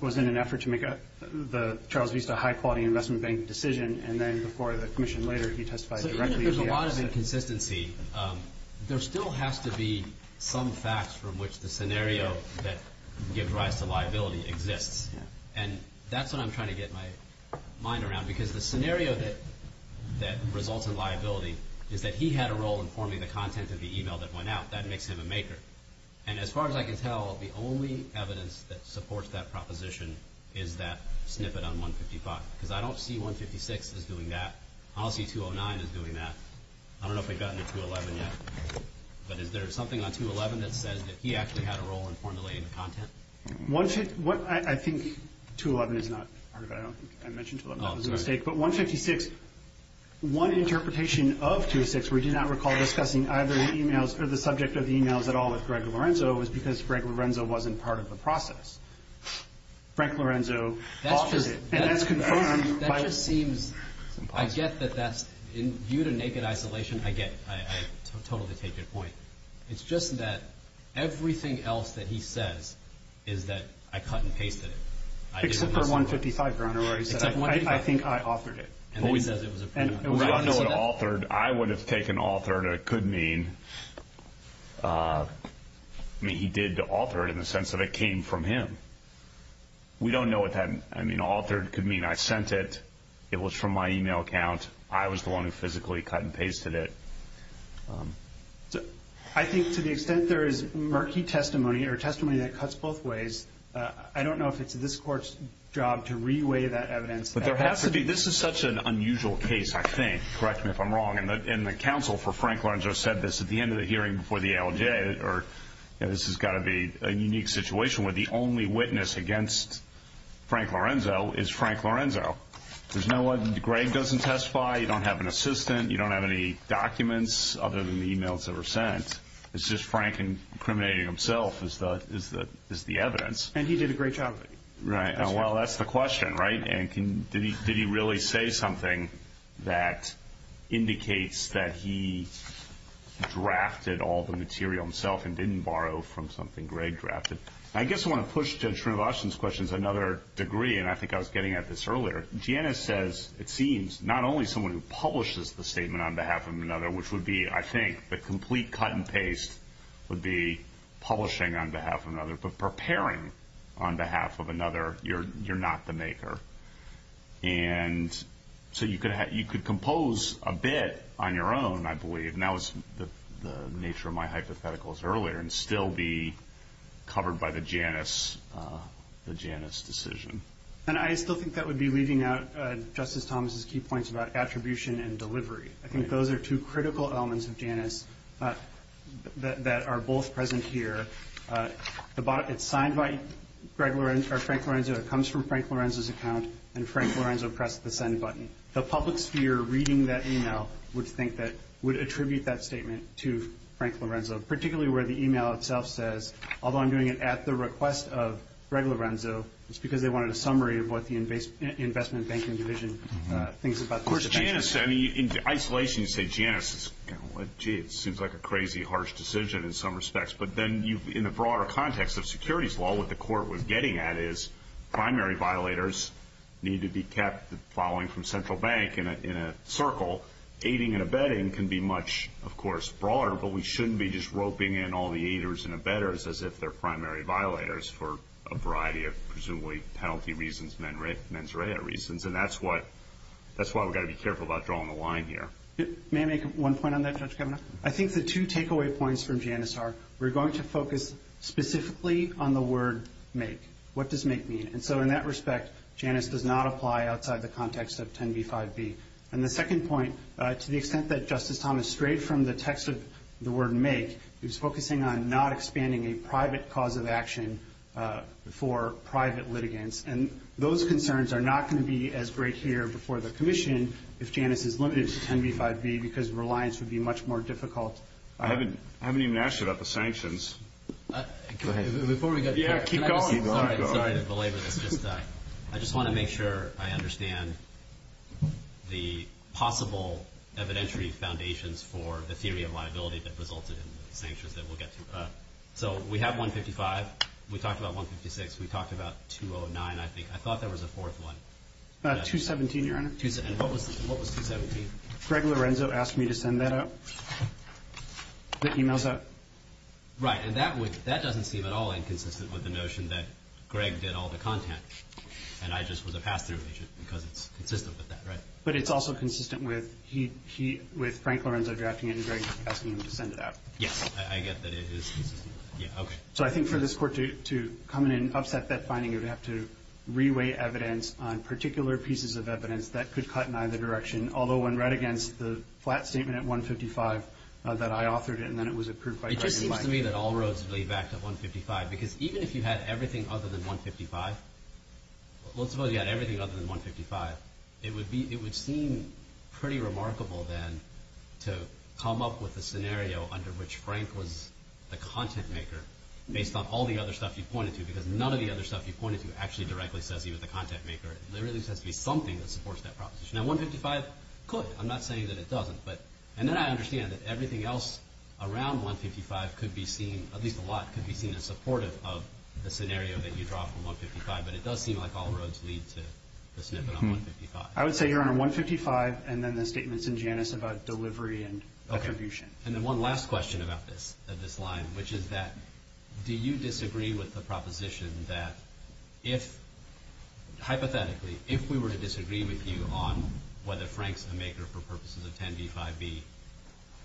was in an effort to make the Charles Vista high-quality investment bank decision, and then before the Commission later he testified directly. There's a lot of inconsistency. There still has to be some facts from which the scenario that gives rise to liability exists. And that's what I'm trying to get my mind around, because the scenario that results in liability is that he had a role in forming the content of the e-mail that went out. That makes him a maker. And as far as I can tell, the only evidence that supports that proposition is that snippet on 155. Because I don't see 156 as doing that. I don't see 209 as doing that. I don't know if we've gotten to 211 yet. But is there something on 211 that says that he actually had a role in formulating the content? I think 211 is not part of it. I don't think I mentioned 211. That was a mistake. But 156, one interpretation of 206, where we do not recall discussing either the e-mails or the subject of the e-mails at all with Greg Lorenzo, was because Greg Lorenzo wasn't part of the process. Frank Lorenzo authored it. And that's confirmed. That just seems... I get that that's... Due to naked isolation, I totally take your point. It's just that everything else that he says is that I cut and pasted it. Except for 155, Your Honor, where he said... He authored it. And then he says it was... I don't know what authored. I would have taken authored, and it could mean... I mean, he did author it in the sense that it came from him. We don't know what that... I mean, authored could mean I sent it, it was from my e-mail account, I was the one who physically cut and pasted it. I think to the extent there is murky testimony or testimony that cuts both ways, I don't know if it's this Court's job to re-weigh that evidence. But there has to be... This is such an unusual case, I think. Correct me if I'm wrong. And the counsel for Frank Lorenzo said this at the end of the hearing before the ALJ. This has got to be a unique situation where the only witness against Frank Lorenzo is Frank Lorenzo. There's no one... Greg doesn't testify. You don't have an assistant. You don't have any documents other than the e-mails that were sent. It's just Frank incriminating himself is the evidence. And he did a great job of it. Right. Well, that's the question, right? And did he really say something that indicates that he drafted all the material himself and didn't borrow from something Greg drafted? I guess I want to push Judge Srinivasan's questions another degree, and I think I was getting at this earlier. Janice says it seems not only someone who publishes the statement on behalf of another, which would be, I think, the complete cut and paste, would be publishing on behalf of another, but preparing on behalf of another, you're not the maker. And so you could compose a bit on your own, I believe, and that was the nature of my hypotheticals earlier, and still be covered by the Janice decision. And I still think that would be leaving out Justice Thomas' key points about attribution and delivery. I think those are two critical elements of Janice that are both present here. It's signed by Frank Lorenzo, it comes from Frank Lorenzo's account, and Frank Lorenzo pressed the send button. The public sphere reading that email would attribute that statement to Frank Lorenzo, particularly where the email itself says, although I'm doing it at the request of Frank Lorenzo, it's because they wanted a summary of what the Investment Banking Division thinks about this. Of course, Janice, I mean, in isolation you say Janice. Gee, it seems like a crazy, harsh decision in some respects, but then in the broader context of securities law what the court was getting at is primary violators need to be kept following from central bank in a circle. Aiding and abetting can be much, of course, broader, but we shouldn't be just roping in all the aiders and abettors as if they're primary violators for a variety of presumably penalty reasons, mens rea reasons, and that's why we've got to be careful about drawing the line here. May I make one point on that, Judge Kavanaugh? I think the two takeaway points from Janice are we're going to focus specifically on the word make. What does make mean? And so in that respect, Janice does not apply outside the context of 10b-5b. And the second point, to the extent that Justice Thomas strayed from the text of the word make, he was focusing on not expanding a private cause of action for private litigants, and those concerns are not going to be as great here before the commission if Janice is limited to 10b-5b because reliance would be much more difficult. I haven't even asked you about the sanctions. Go ahead. Yeah, keep going. Sorry to belabor this. I just want to make sure I understand the possible evidentiary foundations for the theory of liability that resulted in the sanctions that we'll get to. So we have 155. We talked about 156. We talked about 209, I think. I thought there was a fourth one. 217, Your Honor. And what was 217? Greg Lorenzo asked me to send that out, the e-mails out. Right. And that doesn't seem at all inconsistent with the notion that Greg did all the content and I just was a pass-through agent because it's consistent with that, right? But it's also consistent with Frank Lorenzo drafting it and Greg asking him to send it out. Yes, I get that it is inconsistent. Yeah, okay. So I think for this Court to come in and upset that finding, you'd have to re-weigh evidence on particular pieces of evidence that could cut in either direction, although when read against the flat statement at 155 that I authored and then it was approved by Greg and Mike. It just seems to me that all roads lead back to 155 because even if you had everything other than 155, let's suppose you had everything other than 155, it would seem pretty remarkable then to come up with a scenario under which Frank was the content maker based on all the other stuff you pointed to because none of the other stuff you pointed to actually directly says he was the content maker. There really has to be something that supports that proposition. Now, 155 could. I'm not saying that it doesn't. And then I understand that everything else around 155 could be seen, at least a lot could be seen as supportive of the scenario that you draw from 155, but it does seem like all roads lead to the snippet on 155. I would say you're on a 155 and then the statements in Janus about delivery and attribution. And then one last question about this line, which is that do you disagree with the proposition that if, hypothetically, if we were to disagree with you on whether Frank's the maker for purposes of 10b-5b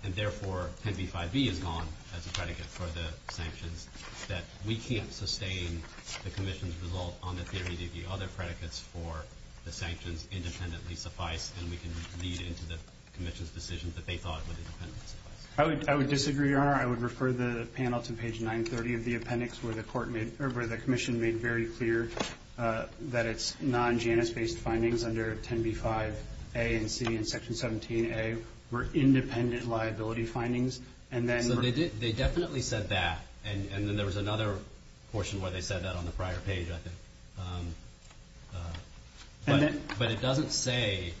and therefore 10b-5b is gone as a predicate for the sanctions, that we can't sustain the commission's result on the theory that the other predicates for the sanctions independently suffice and we can lead into the commission's decision that they thought would independently suffice? I would disagree, Your Honor. I would refer the panel to page 930 of the appendix where the commission made very clear that its non-Janus-based findings under 10b-5a and c and section 17a were independent liability findings. So they definitely said that, and then there was another portion where they said that on the prior page, I think. But it doesn't say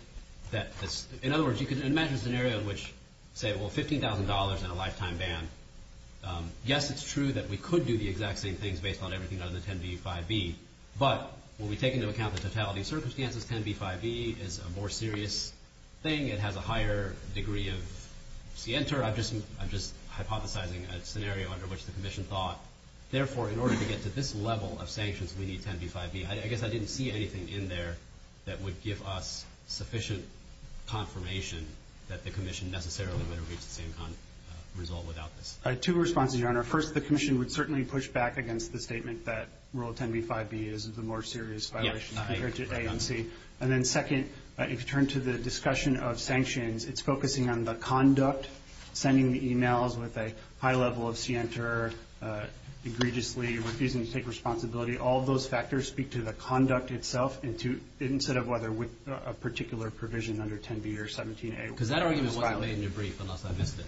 that this, in other words, you can imagine a scenario in which, say, well, $15,000 and a lifetime ban. Yes, it's true that we could do the exact same things based on everything other than 10b-5b, but when we take into account the totality of circumstances, 10b-5b is a more serious thing. It has a higher degree of scienter. I'm just hypothesizing a scenario under which the commission thought, therefore, in order to get to this level of sanctions, we need 10b-5b. I guess I didn't see anything in there that would give us sufficient confirmation that the commission necessarily would have reached the same result without this. Two responses, Your Honor. First, the commission would certainly push back against the statement that rule 10b-5b is the more serious violation compared to a and c. And then second, if you turn to the discussion of sanctions, it's focusing on the conduct, sending the e-mails with a high level of scienter, egregiously refusing to take responsibility. All of those factors speak to the conduct itself, instead of whether with a particular provision under 10b or 17a. Because that argument wasn't made in your brief, unless I missed it,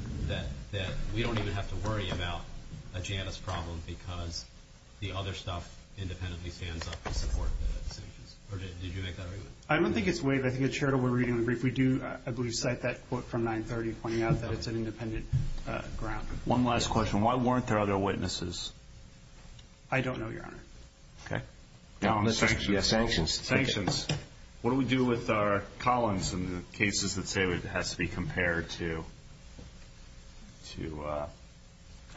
that we don't even have to worry about a Janus problem because the other stuff independently stands up to support the sanctions. Or did you make that argument? I don't think it's waived. I think it's shared in what we're reading in the brief. If we do, I believe, cite that quote from 930, pointing out that it's an independent ground. One last question. Why weren't there other witnesses? I don't know, Your Honor. Okay. Sanctions. Sanctions. What do we do with our columns and the cases that say it has to be compared to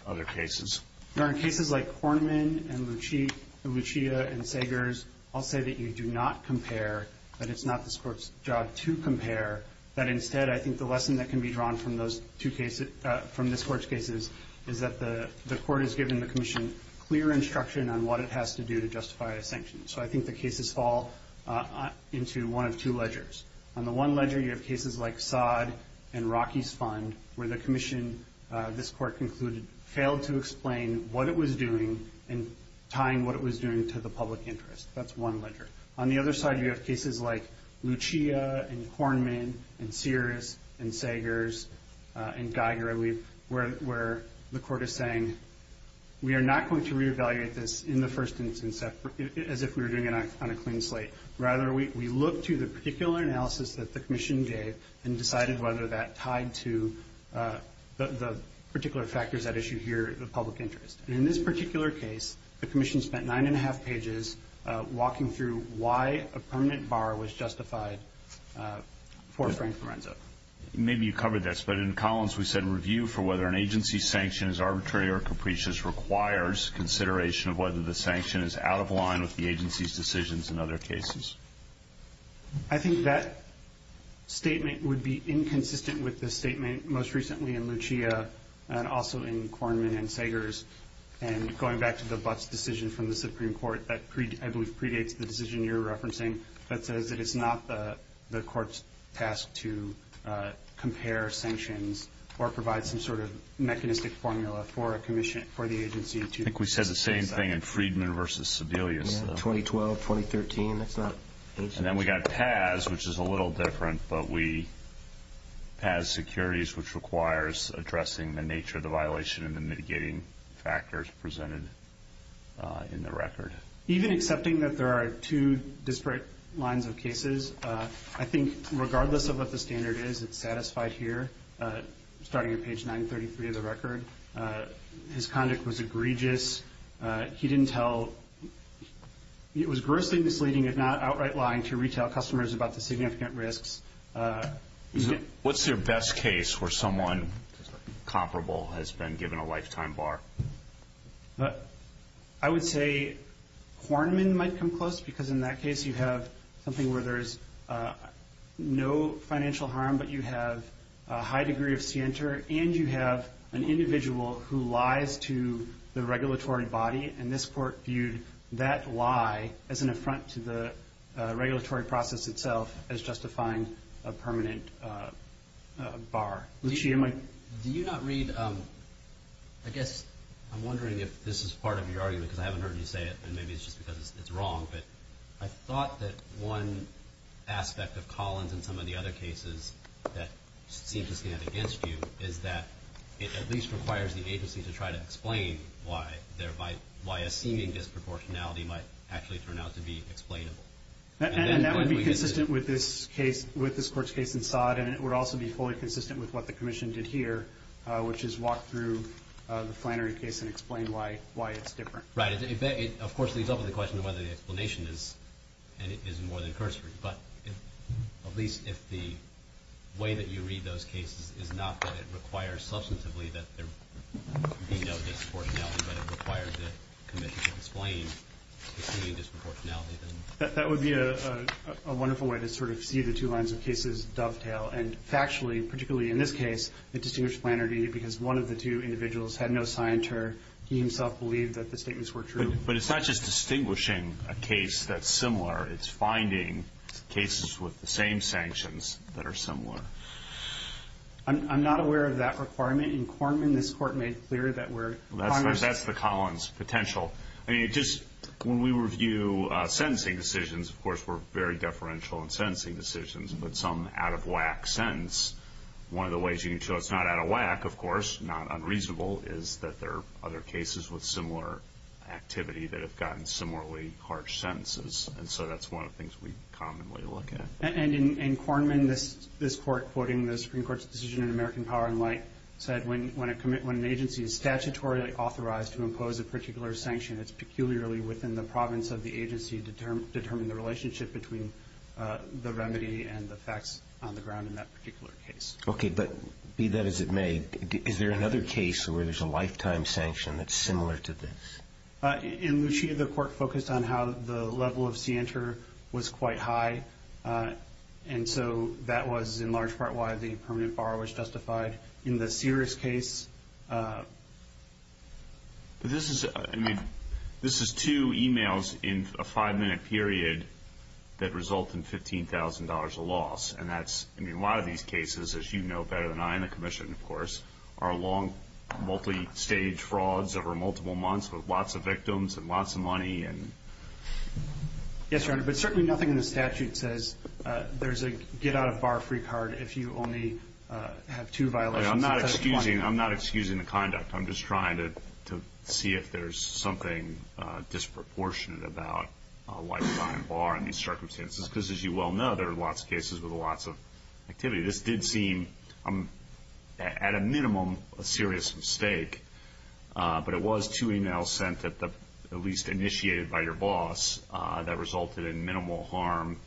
other cases? Your Honor, cases like Kornman and Lucia and Sagers, I'll say that you do not compare, that it's not this Court's job to compare, that instead I think the lesson that can be drawn from this Court's cases is that the Court has given the Commission clear instruction on what it has to do to justify a sanction. So I think the cases fall into one of two ledgers. On the one ledger, you have cases like Sodd and Rockey's Fund, where the Commission, this Court concluded, failed to explain what it was doing and tying what it was doing to the public interest. That's one ledger. On the other side, you have cases like Lucia and Kornman and Sears and Sagers and Geiger, where the Court is saying we are not going to reevaluate this in the first instance as if we were doing it on a clean slate. Rather, we look to the particular analysis that the Commission gave and decided whether that tied to the particular factors at issue here, the public interest. In this particular case, the Commission spent nine and a half pages walking through why a permanent bar was justified for Frank Lorenzo. Maybe you covered this, but in Collins we said a review for whether an agency's sanction is arbitrary or capricious requires consideration of whether the sanction is out of line with the agency's decisions in other cases. I think that statement would be inconsistent with the statement most recently in Lucia and also in Kornman and Sagers. Going back to the Butts decision from the Supreme Court, that I believe predates the decision you're referencing, that says that it's not the Court's task to compare sanctions or provide some sort of mechanistic formula for the agency to decide. I think we said the same thing in Friedman v. Sebelius. 2012, 2013. And then we got Paz, which is a little different, but we passed securities, which requires addressing the nature of the violation and the mitigating factors presented in the record. Even accepting that there are two disparate lines of cases, I think regardless of what the standard is, it's satisfied here. Starting at page 933 of the record, his conduct was egregious. He didn't tell. It was grossly misleading, if not outright lying, to retail customers about the significant risks. What's your best case where someone comparable has been given a lifetime bar? I would say Kornman might come close, because in that case you have something where there's no financial harm but you have a high degree of scienter and you have an individual who lies to the regulatory body, and this Court viewed that lie as an affront to the regulatory process itself, as justifying a permanent bar. Do you not read, I guess I'm wondering if this is part of your argument, because I haven't heard you say it, and maybe it's just because it's wrong, but I thought that one aspect of Collins and some of the other cases that seem to stand against you is that it at least requires the agency to try to explain why a seeming disproportionality might actually turn out to be explainable. And that would be consistent with this Court's case in Sod, and it would also be fully consistent with what the Commission did here, which is walk through the Flannery case and explain why it's different. Right. It, of course, leads up to the question of whether the explanation is more than cursory, but at least if the way that you read those cases is not that it requires substantively that there be no disproportionality, but it requires the Commission to explain the seeming disproportionality. That would be a wonderful way to sort of see the two lines of cases dovetail, and factually, particularly in this case, it distinguished Flannery because one of the two individuals had no scienter. He himself believed that the statements were true. But it's not just distinguishing a case that's similar. It's finding cases with the same sanctions that are similar. I'm not aware of that requirement in Corman. This Court made clear that we're Congress. That's the Collins potential. I mean, just when we review sentencing decisions, of course, we're very deferential in sentencing decisions, but some out-of-whack sentence, one of the ways you can show it's not out-of-whack, of course, not unreasonable, is that there are other cases with similar activity that have gotten similarly harsh sentences. And so that's one of the things we commonly look at. And in Corman, this Court, quoting the Supreme Court's decision in American Power and Light, said when an agency is statutorily authorized to impose a particular sanction, it's peculiarly within the province of the agency to determine the relationship between the remedy and the facts on the ground in that particular case. Okay, but be that as it may, is there another case where there's a lifetime sanction that's similar to this? In Lucia, the Court focused on how the level of scienter was quite high, and so that was in large part why the permanent borrower was justified. In the Sears case, this is two e-mails in a five-minute period that result in $15,000 a loss. And a lot of these cases, as you know better than I and the Commission, of course, are long, multi-stage frauds over multiple months with lots of victims and lots of money. Yes, Your Honor, but certainly nothing in the statute says there's a get-out-of-bar-free card if you only have two violations instead of one. I'm not excusing the conduct. I'm just trying to see if there's something disproportionate about a lifetime bar in these circumstances because, as you well know, there are lots of cases with lots of activity. This did seem, at a minimum, a serious mistake, but it was two e-mails sent at least initiated by your boss that resulted in minimal harm.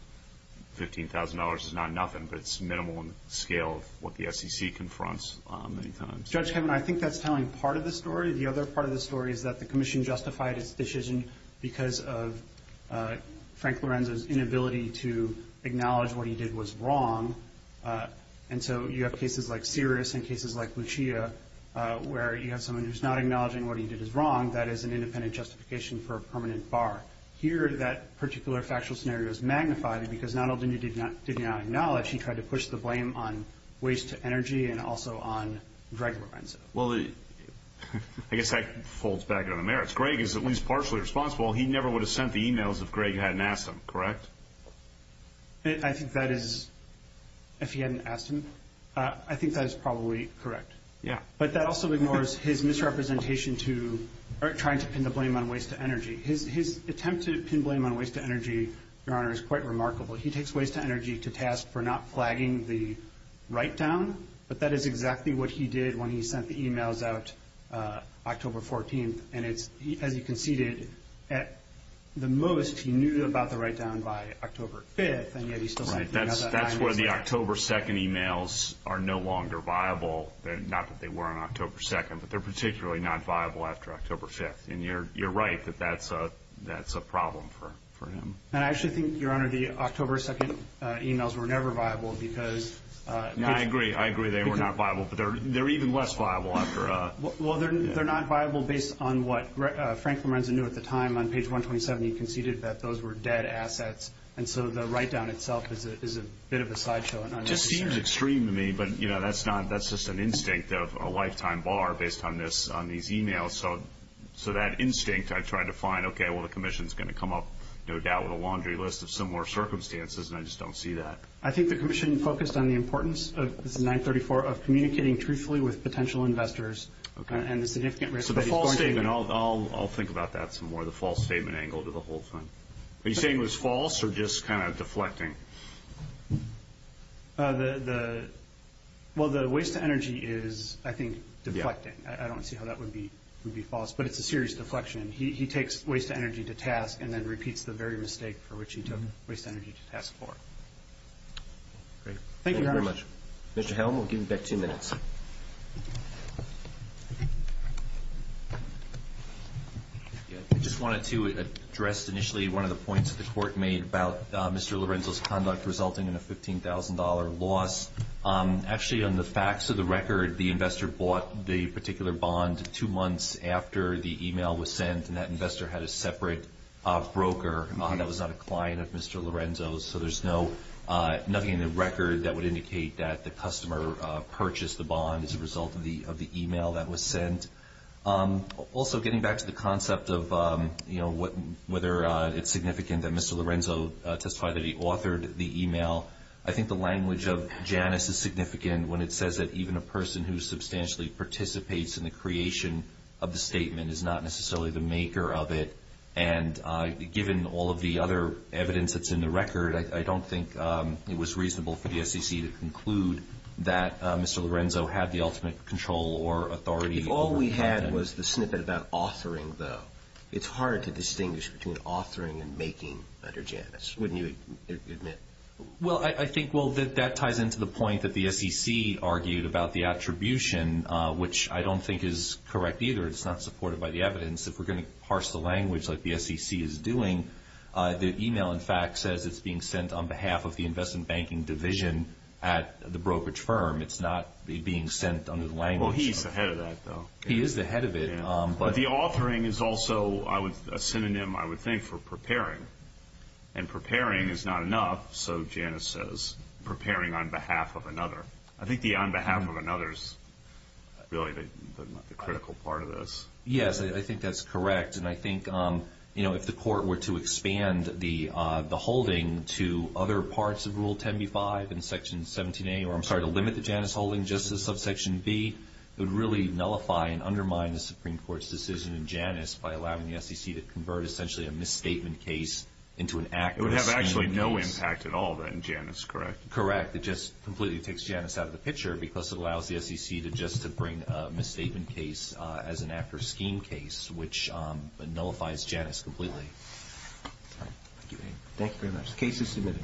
$15,000 is not nothing, but it's minimal on the scale of what the SEC confronts many times. Judge Kevin, I think that's telling part of the story. The other part of the story is that the Commission justified its decision because of Frank Lorenzo's inability to acknowledge what he did was wrong. And so you have cases like Sirius and cases like Lucia where you have someone who's not acknowledging what he did is wrong. That is an independent justification for a permanent bar. Here, that particular factual scenario is magnified because not only did he not acknowledge, he tried to push the blame on waste to energy and also on Greg Lorenzo. Well, I guess that folds back on the merits. Greg is at least partially responsible. He never would have sent the e-mails if Greg hadn't asked him, correct? I think that is, if he hadn't asked him, I think that is probably correct. Yeah. But that also ignores his misrepresentation to trying to pin the blame on waste to energy. His attempt to pin blame on waste to energy, Your Honor, is quite remarkable. He takes waste to energy to task for not flagging the write-down, but that is exactly what he did when he sent the e-mails out October 14th. And as you conceded, at the most, he knew about the write-down by October 5th, and yet he still sent the e-mails that time instead. That's where the October 2nd e-mails are no longer viable. Not that they weren't October 2nd, but they're particularly not viable after October 5th. And you're right that that's a problem for him. And I actually think, Your Honor, the October 2nd e-mails were never viable because— I agree. I agree they were not viable, but they're even less viable after— Well, they're not viable based on what Franklin Renza knew at the time. On page 127, he conceded that those were dead assets. And so the write-down itself is a bit of a sideshow. It just seems extreme to me, but, you know, that's just an instinct of a lifetime bar based on these e-mails. So that instinct, I try to find, okay, well, the commission is going to come up, no doubt, with a laundry list of similar circumstances, and I just don't see that. I think the commission focused on the importance of, this is 934, of communicating truthfully with potential investors and the significant risk— So the false statement, I'll think about that some more, the false statement angle to the whole thing. Are you saying it was false or just kind of deflecting? Well, the waste of energy is, I think, deflecting. I don't see how that would be false, but it's a serious deflection. He takes waste of energy to task and then repeats the very mistake for which he took waste of energy to task for. Great. Thank you very much. Thank you very much. Mr. Helm, we'll give you back two minutes. I just wanted to address initially one of the points that the court made about Mr. Lorenzo's conduct resulting in a $15,000 loss. Actually, on the facts of the record, the investor bought the particular bond two months after the email was sent, and that investor had a separate broker that was not a client of Mr. Lorenzo's, so there's nothing in the record that would indicate that the customer purchased the bond as a result of the email that was sent. Also, getting back to the concept of whether it's significant that Mr. Lorenzo testified that he authored the email, I think the language of Janus is significant when it says that even a person who substantially participates in the creation of the statement is not necessarily the maker of it. And given all of the other evidence that's in the record, I don't think it was reasonable for the SEC to conclude that Mr. Lorenzo had the ultimate control or authority. If all we had was the snippet about authoring, though, it's hard to distinguish between authoring and making under Janus, wouldn't you admit? Well, I think that ties into the point that the SEC argued about the attribution, which I don't think is correct either. It's not supported by the evidence. If we're going to parse the language like the SEC is doing, the email, in fact, says it's being sent on behalf of the Investment Banking Division at the brokerage firm. It's not being sent under the language. Well, he's the head of that, though. He is the head of it. But the authoring is also a synonym, I would think, for preparing, and preparing is not enough, so Janus says, preparing on behalf of another. I think the on behalf of another is really the critical part of this. Yes, I think that's correct. And I think if the Court were to expand the holding to other parts of Rule 10b-5 and Section 17a, or I'm sorry, to limit the Janus holding just to subsection b, it would really nullify and undermine the Supreme Court's decision in Janus by allowing the SEC to convert essentially a misstatement case into an active scheme case. It would have actually no impact at all then, Janus, correct? Correct. It just completely takes Janus out of the picture because it allows the SEC to just bring a misstatement case as an active scheme case, which nullifies Janus completely. Thank you very much. Case is submitted.